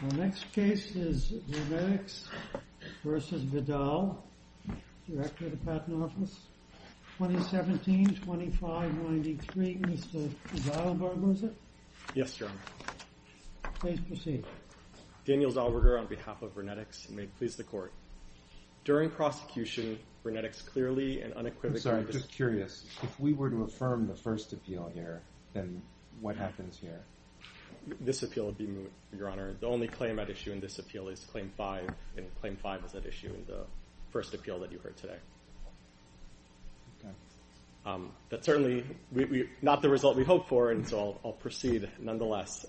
Our next case is VernetX v. Vidal, Director of the Patent Office, 2017-25-93. Mr. Zalabar, was it? Yes, Your Honor. Please proceed. Daniel Zalabar, on behalf of VernetX, and may it please the Court. During prosecution, VernetX clearly and unequivocally- I'm sorry, I'm just curious. If we were to affirm the first appeal here, then what happens here? This appeal would be moot, Your Honor. The only claim at issue in this appeal is Claim 5, and Claim 5 is at issue in the first appeal that you heard today. Okay. That's certainly not the result we hoped for, and so I'll proceed nonetheless.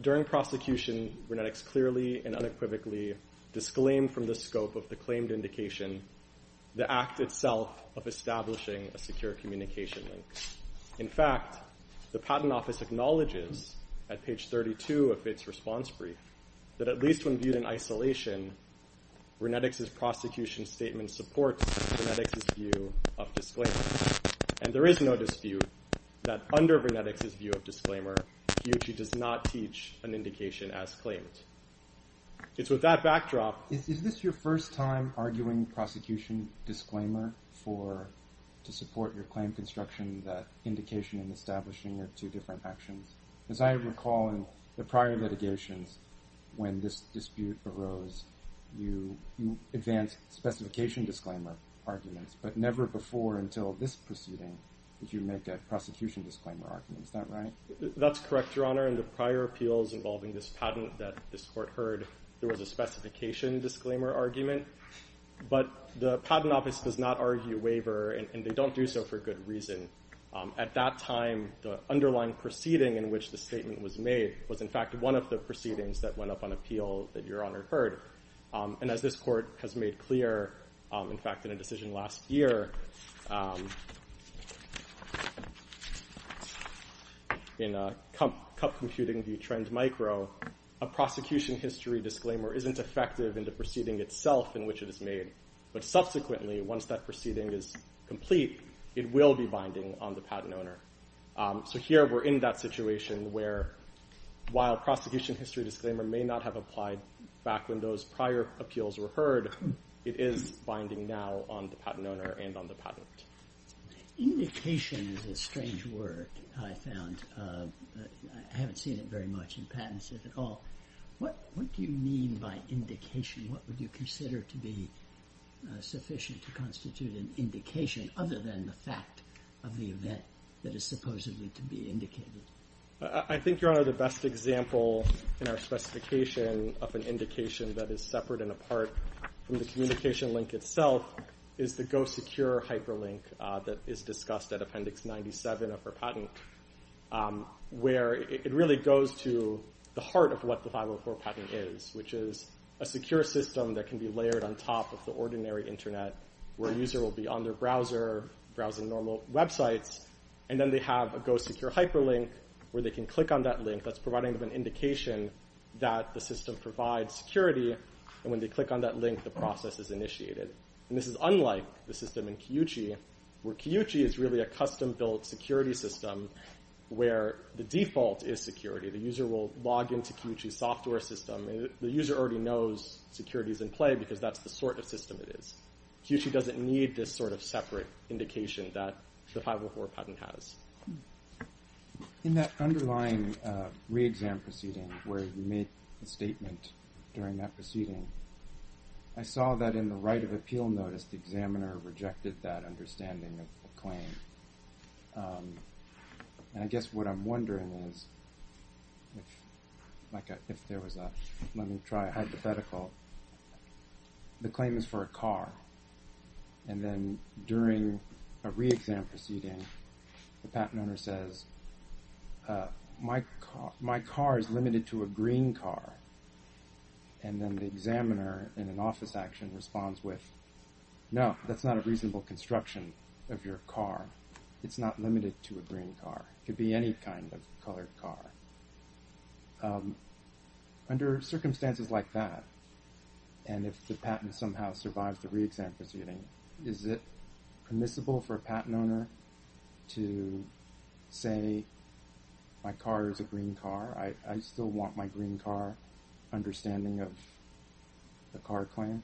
During prosecution, VernetX clearly and unequivocally disclaimed from the scope of the claimed indication the act itself of establishing a secure communication link. In fact, the Patent Office acknowledges at page 32 of its response brief that at least when viewed in isolation, VernetX's prosecution statement supports VernetX's view of disclaimer. And there is no dispute that under VernetX's view of disclaimer, he or she does not teach an indication as claimed. It's with that backdrop- Is this your first time arguing prosecution disclaimer to support your claim construction, that indication and establishing are two different actions? As I recall in the prior litigations, when this dispute arose, you advanced specification disclaimer arguments, but never before until this proceeding did you make a prosecution disclaimer argument. Is that right? That's correct, Your Honor. In the prior appeals involving this patent that this Court heard, there was a specification disclaimer argument. But the Patent Office does not argue waiver, and they don't do so for good reason. At that time, the underlying proceeding in which the statement was made was in fact one of the proceedings that went up on appeal that Your Honor heard. And as this Court has made clear, in fact in a decision last year, in Cup Computing v. Trend Micro, a prosecution history disclaimer isn't effective in the proceeding itself in which it is made. But subsequently, once that proceeding is complete, it will be binding on the patent owner. So here we're in that situation where while prosecution history disclaimer may not have applied back when those prior appeals were heard, it is binding now on the patent owner and on the patent. Indication is a strange word, I found. I haven't seen it very much in patents, if at all. What do you mean by indication? What would you consider to be sufficient to constitute an indication other than the fact of the event that is supposedly to be indicated? I think, Your Honor, the best example in our specification of an indication that is separate and apart from the communication link itself is the Go Secure hyperlink that is discussed at Appendix 97 of our patent, where it really goes to the heart of what the 504 patent is, which is a secure system that can be layered on top of the ordinary internet, where a user will be on their browser, browsing normal websites, and then they have a Go Secure hyperlink where they can click on that link that's providing them an indication that the system provides security, and when they click on that link, the process is initiated. And this is unlike the system in Kiyuchi, where Kiyuchi is really a custom-built security system where the default is security. The user will log into Kiyuchi's software system, and the user already knows security is in play because that's the sort of system it is. Kiyuchi doesn't need this sort of separate indication that the 504 patent has. In that underlying re-exam proceeding where you made a statement during that proceeding, I saw that in the right of appeal notice, the examiner rejected that understanding of the claim. And I guess what I'm wondering is, if there was a – let me try a hypothetical. The claim is for a car, and then during a re-exam proceeding, the patent owner says, My car is limited to a green car. And then the examiner, in an office action, responds with, No, that's not a reasonable construction of your car. It's not limited to a green car. It could be any kind of colored car. Under circumstances like that, and if the patent somehow survives the re-exam proceeding, is it permissible for a patent owner to say, My car is a green car. I still want my green car, understanding of the car claim?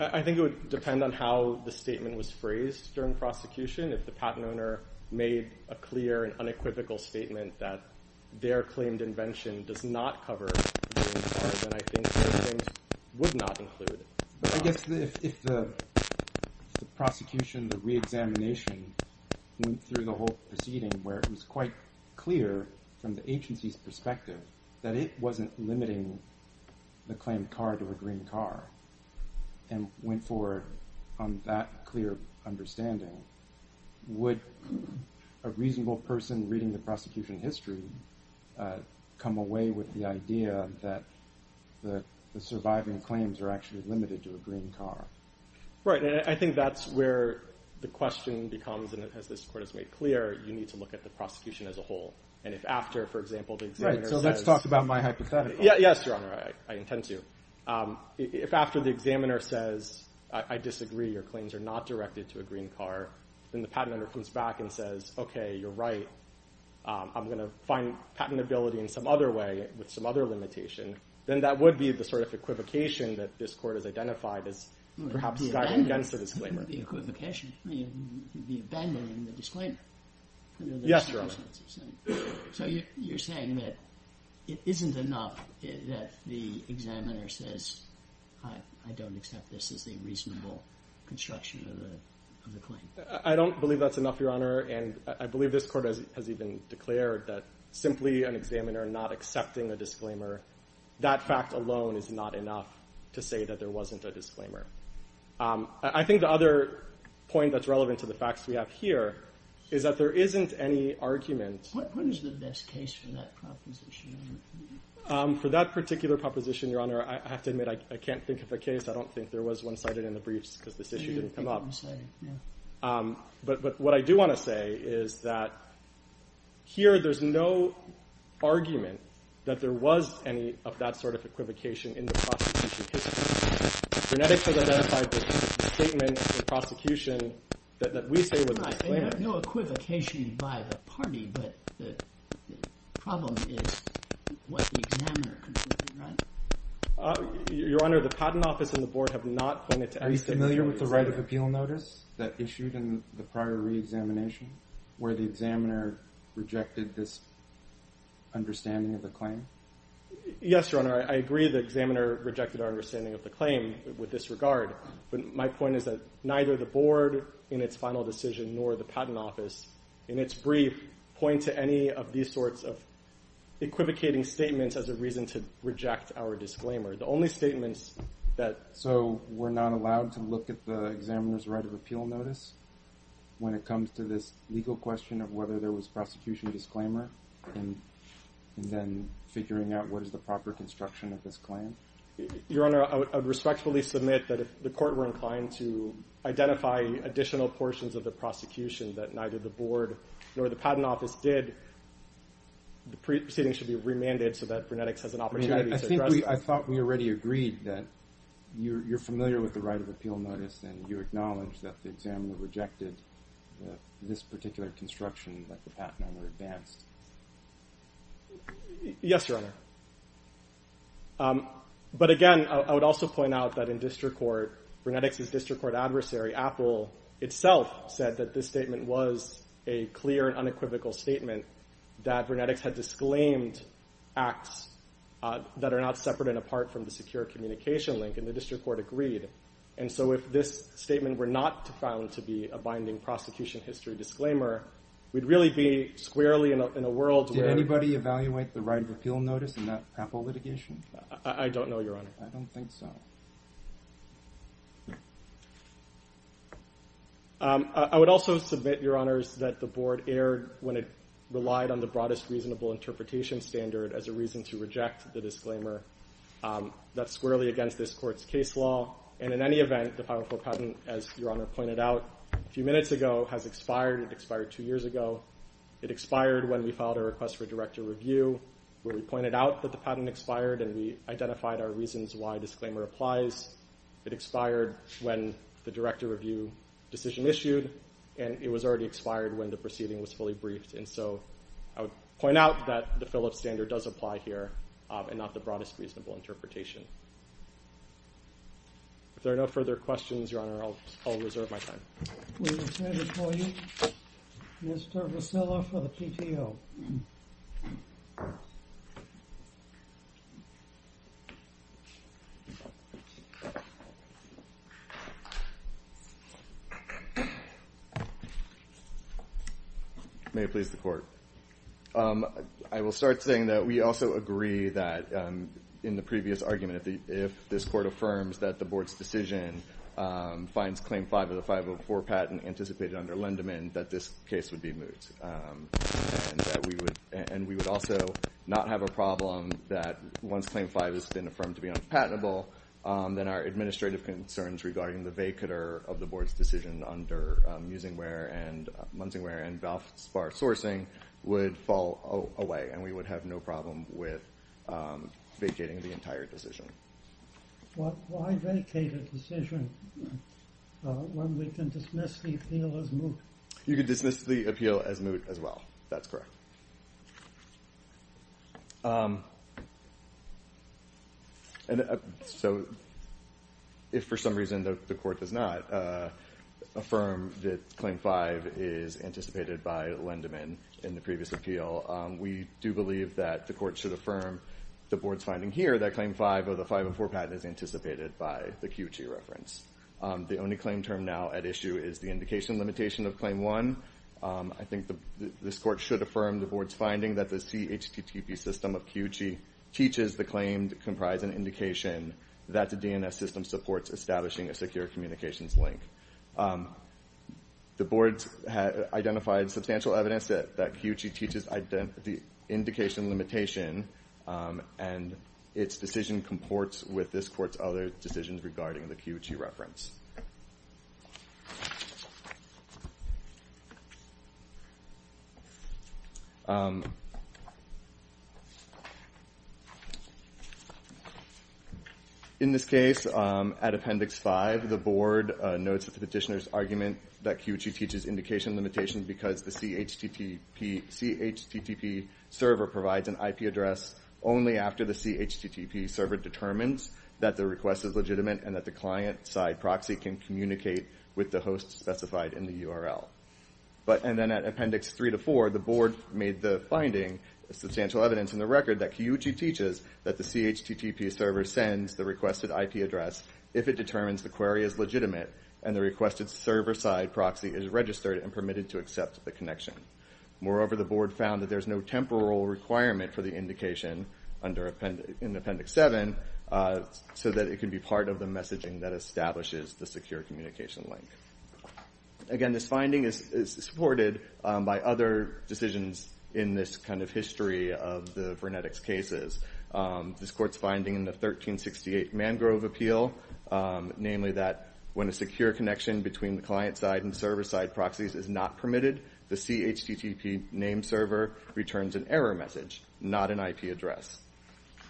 I think it would depend on how the statement was phrased during prosecution. If the patent owner made a clear and unequivocal statement that their claimed invention does not cover a green car, then I think the claims would not include it. I guess if the prosecution, the re-examination went through the whole proceeding, where it was quite clear from the agency's perspective that it wasn't limiting the claimed car to a green car, and went forward on that clear understanding, would a reasonable person reading the prosecution history come away with the idea that the surviving claims are actually limited to a green car? Right, and I think that's where the question becomes, and as this Court has made clear, you need to look at the prosecution as a whole. And if after, for example, the examiner says, Right, so let's talk about my hypothetical. Yes, Your Honor, I intend to. If after the examiner says, I disagree, your claims are not directed to a green car, then the patent owner comes back and says, Okay, you're right, I'm going to find patentability in some other way with some other limitation, then that would be the sort of equivocation that this Court has identified as perhaps guiding against the disclaimer. The equivocation, the abandoning the disclaimer. Yes, Your Honor. So you're saying that it isn't enough that the examiner says, I don't accept this as a reasonable construction of the claim. I don't believe that's enough, Your Honor, and I believe this Court has even declared that simply an examiner not accepting a disclaimer, that fact alone is not enough to say that there wasn't a disclaimer. I think the other point that's relevant to the facts we have here is that there isn't any argument. What is the best case for that proposition? For that particular proposition, Your Honor, I have to admit I can't think of a case. I don't think there was one cited in the briefs because this issue didn't come up. But what I do want to say is that here there's no argument that there was any of that sort of equivocation in the prosecution history. Genetics has identified this statement in the prosecution that we say was a disclaimer. No equivocation by the party, but the problem is what the examiner concluded, right? Your Honor, the Patent Office and the Board have not pointed to any— Are you familiar with the right of appeal notice that issued in the prior reexamination where the examiner rejected this understanding of the claim? Yes, Your Honor. I agree the examiner rejected our understanding of the claim with this regard. But my point is that neither the Board in its final decision nor the Patent Office in its brief point to any of these sorts of equivocating statements as a reason to reject our disclaimer. The only statements that— So we're not allowed to look at the examiner's right of appeal notice when it comes to this legal question of whether there was prosecution disclaimer and then figuring out what is the proper construction of this claim? Your Honor, I would respectfully submit that if the court were inclined to identify additional portions of the prosecution that neither the Board nor the Patent Office did, the proceeding should be remanded so that genetics has an opportunity to address this. I thought we already agreed that you're familiar with the right of appeal notice and you acknowledge that the examiner rejected this particular construction that the Patent Office advanced. Yes, Your Honor. But again, I would also point out that in district court, genetics is district court adversary Apple itself said that this statement was a clear unequivocal statement that genetics had disclaimed acts that are not separate and apart from the secure communication link and the district court agreed. And so if this statement were not found to be a binding prosecution history disclaimer, we'd really be squarely in a world where— Did anybody evaluate the right of appeal notice in that Apple litigation? I don't know, Your Honor. I don't think so. I would also submit, Your Honors, that the Board erred when it relied on the broadest reasonable interpretation standard as a reason to reject the disclaimer. That's squarely against this court's case law. And in any event, the Powerful Patent, as Your Honor pointed out a few minutes ago, has expired. It expired two years ago. It expired when we filed a request for director review, where we pointed out that the patent expired and we identified our reasons why disclaimer applies. It expired when the director review decision issued, and it was already expired when the proceeding was fully briefed. And so I would point out that the Phillips standard does apply here and not the broadest reasonable interpretation. If there are no further questions, Your Honor, I'll reserve my time. We will now call you Mr. Vassillo for the PTO. Thank you, Your Honor. May it please the Court. I will start saying that we also agree that in the previous argument, if this Court affirms that the Board's decision finds Claim 5 of the 504 patent anticipated under Lindemann, then that this case would be moot. And we would also not have a problem that once Claim 5 has been affirmed to be unpatentable, then our administrative concerns regarding the vacater of the Board's decision under Musingware and Munsingware and Balfour Spar Sourcing would fall away, and we would have no problem with vacating the entire decision. Why vacate a decision when we can dismiss the appeal as moot? You can dismiss the appeal as moot as well. That's correct. So if for some reason the Court does not affirm that Claim 5 is anticipated by Lindemann in the previous appeal, we do believe that the Court should affirm the Board's finding here that Claim 5 of the 504 patent is anticipated by the Kiyuchi reference. The only claim term now at issue is the indication limitation of Claim 1. I think this Court should affirm the Board's finding that the CHTTP system of Kiyuchi teaches the claim to comprise an indication that the DNS system supports establishing a secure communications link. The Board has identified substantial evidence that Kiyuchi teaches the indication limitation, and its decision comports with this Court's other decisions regarding the Kiyuchi reference. In this case, at Appendix 5, the Board notes the petitioner's argument that Kiyuchi teaches indication limitation because the CHTTP server provides an IP address only after the CHTTP server determines that the request is legitimate and that the client-side proxy can communicate with the host specified in the URL. And then at Appendix 3-4, the Board made the finding, substantial evidence in the record, that Kiyuchi teaches that the CHTTP server sends the requested IP address if it determines the query is legitimate and the requested server-side proxy is registered and permitted to accept the connection. Moreover, the Board found that there's no temporal requirement for the indication in Appendix 7 so that it can be part of the messaging that establishes the secure communication link. Again, this finding is supported by other decisions in this kind of history of the Vernetics cases. This Court's finding in the 1368 Mangrove Appeal, namely that when a secure connection between the client-side and server-side proxies is not permitted, the CHTTP name server returns an error message, not an IP address.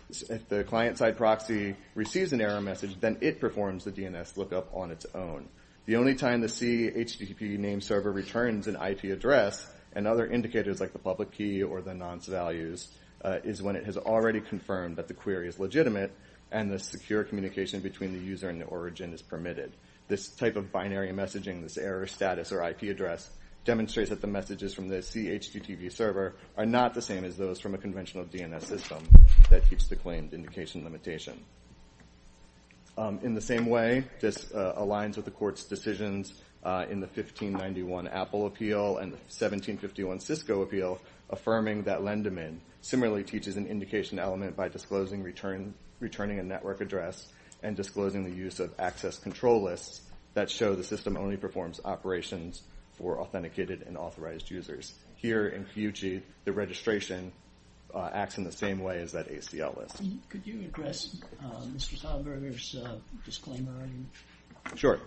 If the client-side proxy receives an error message, then it performs the DNS lookup on its own. The only time the CHTTP name server returns an IP address and other indicators like the public key or the nonce values is when it has already confirmed that the query is legitimate and the secure communication between the user and the origin is permitted. This type of binary messaging, this error status or IP address, demonstrates that the messages from the CHTTP server are not the same as those from a conventional DNS system that keeps the claimed indication limitation. In the same way, this aligns with the Court's decisions in the 1591 Apple Appeal and the 1751 Cisco Appeal affirming that lend-a-min similarly teaches an indication element by disclosing returning a network address and disclosing the use of access control lists that show the system only performs operations for authenticated and authorized users. Here in Cuyuchi, the registration acts in the same way as that ACL list. Could you address Mr. Sahlberger's disclaimer? Sure.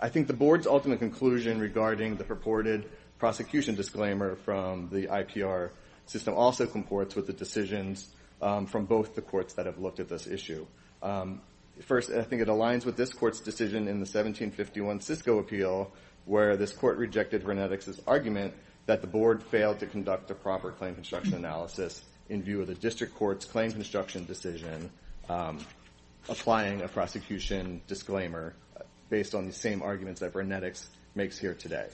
I think the Board's ultimate conclusion regarding the purported prosecution disclaimer from the IPR system also comports with the decisions from both the courts that have looked at this issue. First, I think it aligns with this Court's decision in the 1751 Cisco Appeal where this Court rejected Renetics' argument that the Board failed to conduct a proper claim construction analysis in view of the District Court's claim construction decision applying a prosecution disclaimer based on the same arguments that Renetics makes here today.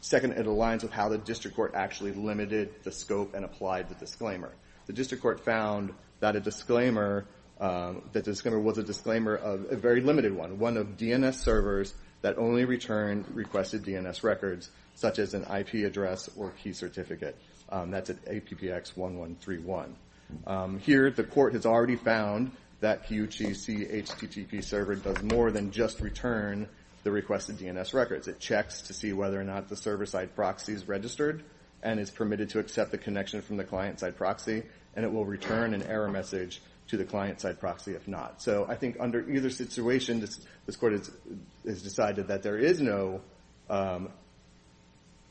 Second, it aligns with how the District Court actually limited the scope and applied the disclaimer. The District Court found that a disclaimer was a disclaimer of a very limited one, one of DNS servers that only return requested DNS records such as an IP address or key certificate. That's at APPX 1131. Here, the Court has already found that Cuyuchi's CHTTP server does more than just return the requested DNS records. It checks to see whether or not the server-side proxy is registered and is permitted to accept the connection from the client-side proxy, and it will return an error message to the client-side proxy if not. I think under either situation, this Court has decided that there is no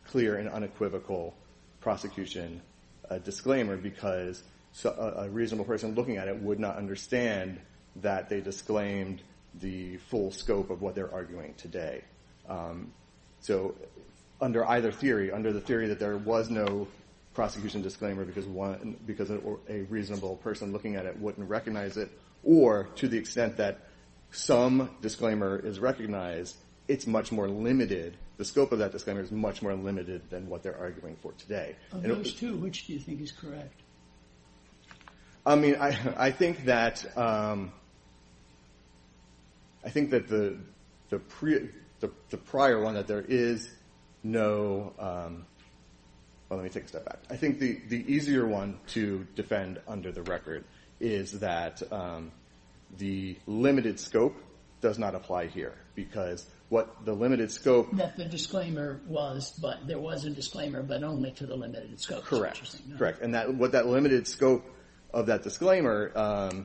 clear and unequivocal prosecution disclaimer because a reasonable person looking at it would not understand that they disclaimed the full scope of what they're arguing today. So under either theory, under the theory that there was no prosecution disclaimer because a reasonable person looking at it wouldn't recognize it, or to the extent that some disclaimer is recognized, it's much more limited. The scope of that disclaimer is much more limited than what they're arguing for today. Of those two, which do you think is correct? I mean, I think that the prior one, that there is no... Well, let me take a step back. I think the easier one to defend under the record is that the limited scope does not apply here because what the limited scope... That the disclaimer was, but there was a disclaimer, but only to the limited scope. Correct. And what that limited scope of that disclaimer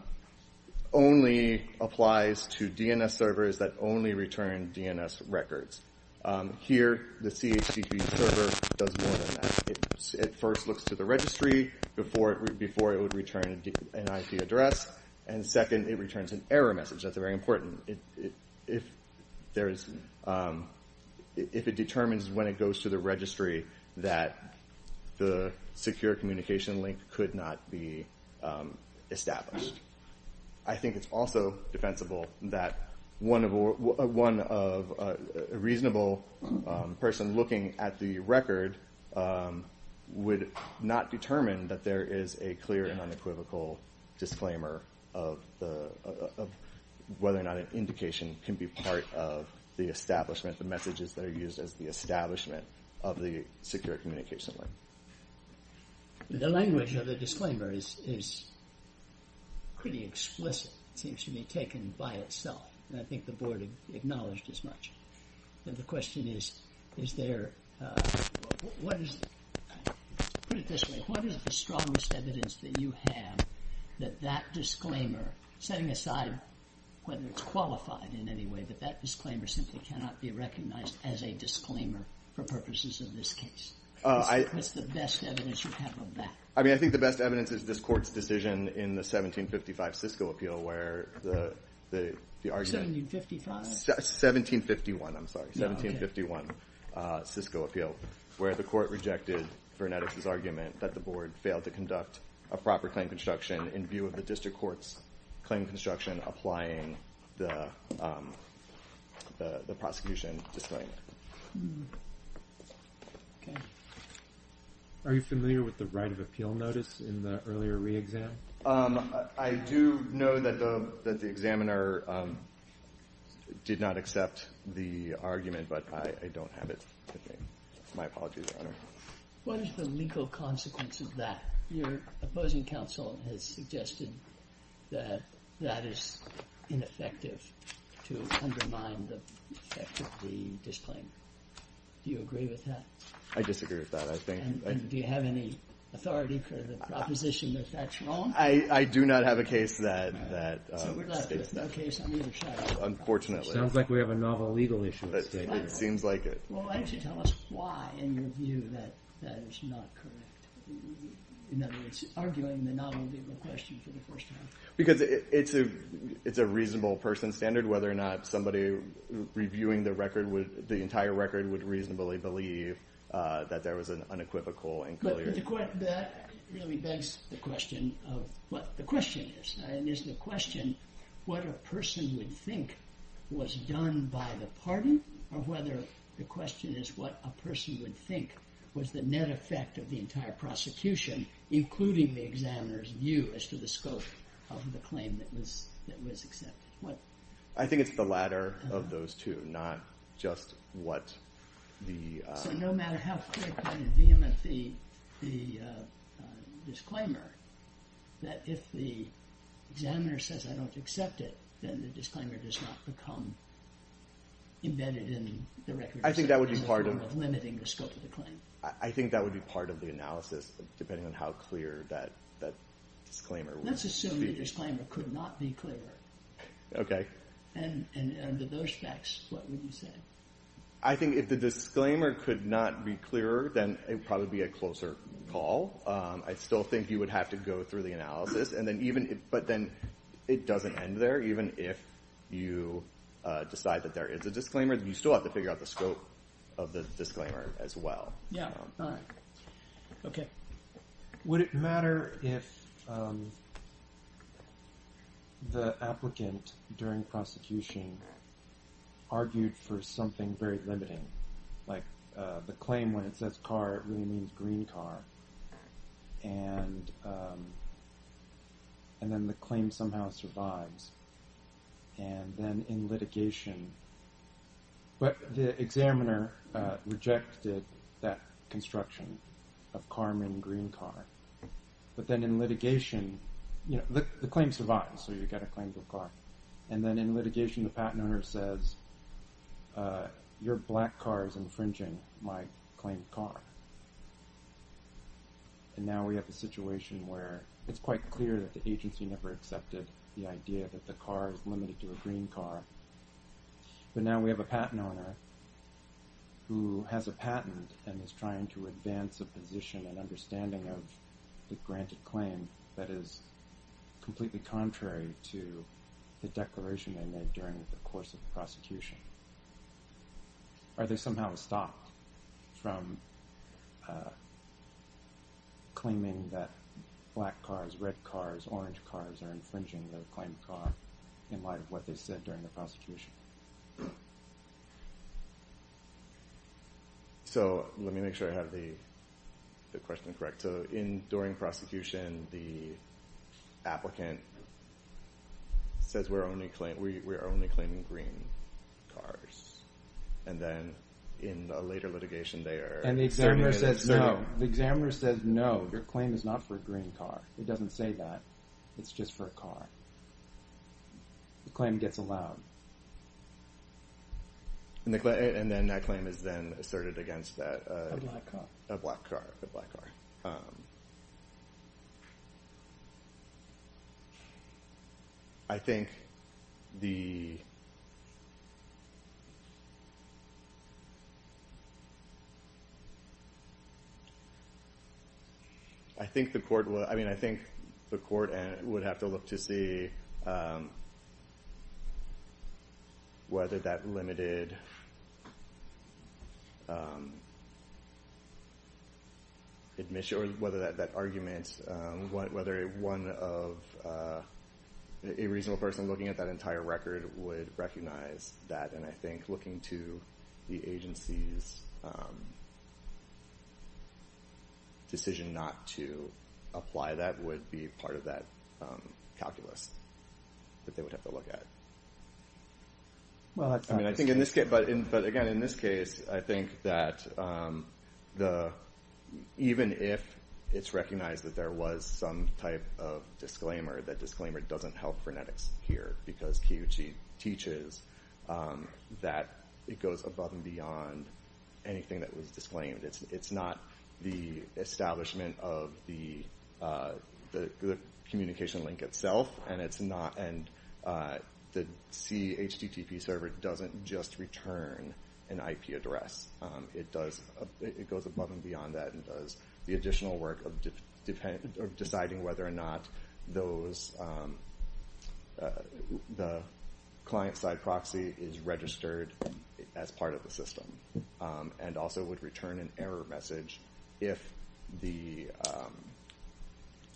only applies to DNS servers that only return DNS records. Here, the CHP server does more than that. It first looks to the registry before it would return an IP address, and second, it returns an error message. That's very important. If it determines when it goes to the registry that the secure communication link could not be established. I think it's also defensible that one reasonable person looking at the record would not determine that there is a clear and unequivocal disclaimer of whether or not an indication can be part of the establishment, the messages that are used as the establishment of the secure communication link. The language of the disclaimer is pretty explicit. It seems to be taken by itself, and I think the board acknowledged as much. And the question is, is there... Put it this way. What is the strongest evidence that you have that that disclaimer, setting aside whether it's qualified in any way, that that disclaimer simply cannot be recognized as a disclaimer for purposes of this case? What's the best evidence you have of that? I mean, I think the best evidence is this court's decision in the 1755 Cisco Appeal, where the argument... 1755? 1751, I'm sorry, 1751 Cisco Appeal, where the court rejected Vernetis' argument that the board failed to conduct a proper claim construction in view of the district court's claim construction applying the prosecution disclaimer. Okay. Are you familiar with the right of appeal notice in the earlier re-exam? I do know that the examiner did not accept the argument, but I don't have it with me. My apologies, Your Honor. What is the legal consequence of that? Your opposing counsel has suggested that that is ineffective to undermine the effect of the disclaimer. Do you agree with that? I disagree with that. I think... And do you have any authority for the proposition that that's wrong? I do not have a case that states that. So we're left with no case on either side. Unfortunately. Sounds like we have a novel legal issue. It seems like it. Well, why don't you tell us why in your view that that is not correct? In other words, arguing the novel legal question for the first time. Because it's a reasonable person standard whether or not somebody reviewing the entire record would reasonably believe that there was an unequivocal and clear... But that really begs the question of what the question is. And is the question what a person would think was done by the party or whether the question is what a person would think was the net effect of the entire prosecution, including the examiner's view as to the scope of the claim that was accepted? I think it's the latter of those two, not just what the... So no matter how clear-cut and vehement the disclaimer, that if the examiner says, I don't accept it, then the disclaimer does not become embedded in the record. I think that would be part of... As a form of limiting the scope of the claim. I think that would be part of the analysis, depending on how clear that disclaimer would be. Let's assume the disclaimer could not be clearer. Okay. And under those facts, what would you say? I think if the disclaimer could not be clearer, then it would probably be a closer call. I still think you would have to go through the analysis, but then it doesn't end there. Even if you decide that there is a disclaimer, you still have to figure out the scope of the disclaimer as well. Yeah. All right. Okay. Would it matter if the applicant during prosecution argued for something very limiting? Like the claim when it says car, it really means green car. And then the claim somehow survives. And then in litigation, but the examiner rejected that construction of Carmen green car. But then in litigation, the claim survives, so you get a claim for car. And then in litigation, the patent owner says, your black car is infringing my claim car. And now we have a situation where it's quite clear that the agency never accepted the idea that the car is limited to a green car. But now we have a patent owner who has a patent and is trying to advance a position and understanding of the granted claim that is completely contrary to the declaration they made during the course of the prosecution. Are they somehow stopped from claiming that black cars, red cars, orange cars are infringing their claim car in light of what they said during the prosecution? So let me make sure I have the question correct. So during prosecution, the applicant says we're only claiming green cars. And then in a later litigation, the examiner says, no, your claim is not for a green car. It doesn't say that. It's just for a car. The claim gets allowed. And then that claim is then asserted against that black car. I think the court would have to look to see whether that limited admission or whether that argument, whether a reasonable person looking at that entire record would recognize that. And I think looking to the agency's decision not to apply that would be part of that calculus that they would have to look at. But again, in this case, I think that even if it's recognized that there was some type of disclaimer, that disclaimer doesn't help phonetics here because Kiyoshi teaches that it goes above and beyond anything that was disclaimed. It's not the establishment of the communication link itself, and the CHTTP server doesn't just return an IP address. It goes above and beyond that and does the additional work of deciding whether or not the client-side proxy is registered as part of the system and also would return an error message if the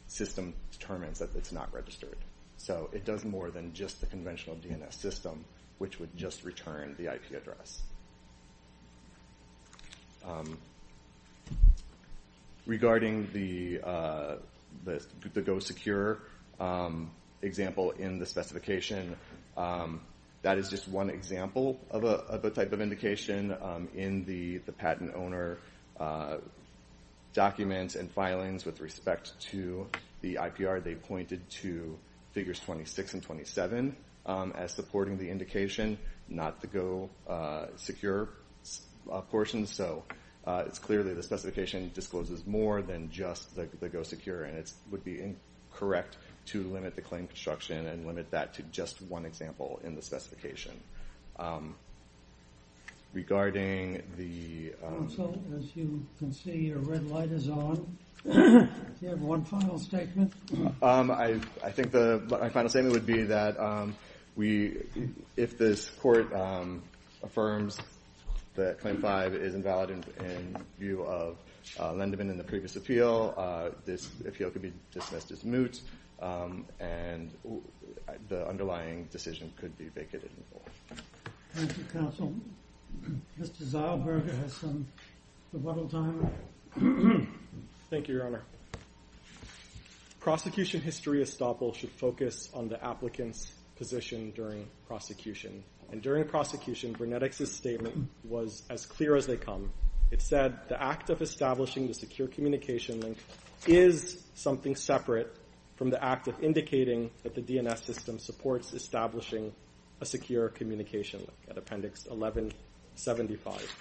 system determines that it's not registered. So it does more than just the conventional DNS system, which would just return the IP address. Regarding the Go Secure example in the specification, that is just one example of a type of indication in the patent owner documents and filings with respect to the IPR. They pointed to figures 26 and 27 as supporting the indication, not the Go Secure portion. So it's clearly the specification discloses more than just the Go Secure, and it would be incorrect to limit the claim construction and limit that to just one example in the specification. Regarding the... Counsel, as you can see, your red light is on. Do you have one final statement? I think my final statement would be that if this court affirms that Claim 5 is invalid in view of Lendeman and the previous appeal, this appeal could be dismissed as moot, and the underlying decision could be vacated. Thank you, Counsel. Mr. Zylberg has some rebuttal time. Thank you, Your Honor. Prosecution history estoppel should focus on the applicant's position during prosecution, and during prosecution, Brenetics' statement was as clear as they come. It said, the act of establishing the secure communication link is something separate from the act of indicating that the DNS system supports establishing a secure communication link at Appendix 1175.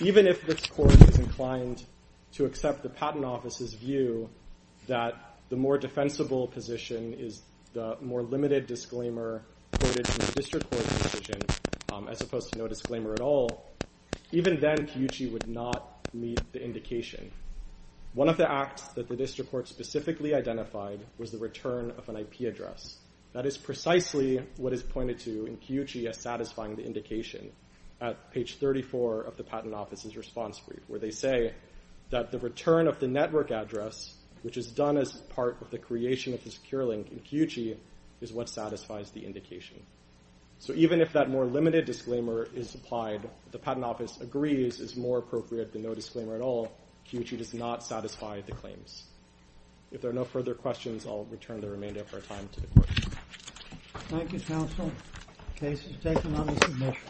Even if this court is inclined to accept the Patent Office's view that the more defensible position is the more limited disclaimer quoted from the District Court's decision, as opposed to no disclaimer at all, even then, Piucci would not meet the indication. One of the acts that the District Court specifically identified was the return of an IP address. That is precisely what is pointed to in Piucci as satisfying the indication at page 34 of the Patent Office's response brief, where they say that the return of the network address, which is done as part of the creation of the secure link in Piucci, is what satisfies the indication. So even if that more limited disclaimer is applied, the Patent Office agrees is more appropriate than no disclaimer at all, Piucci does not satisfy the claims. If there are no further questions, I'll return the remainder of our time to the court. Thank you, counsel. Case is taken on the submission.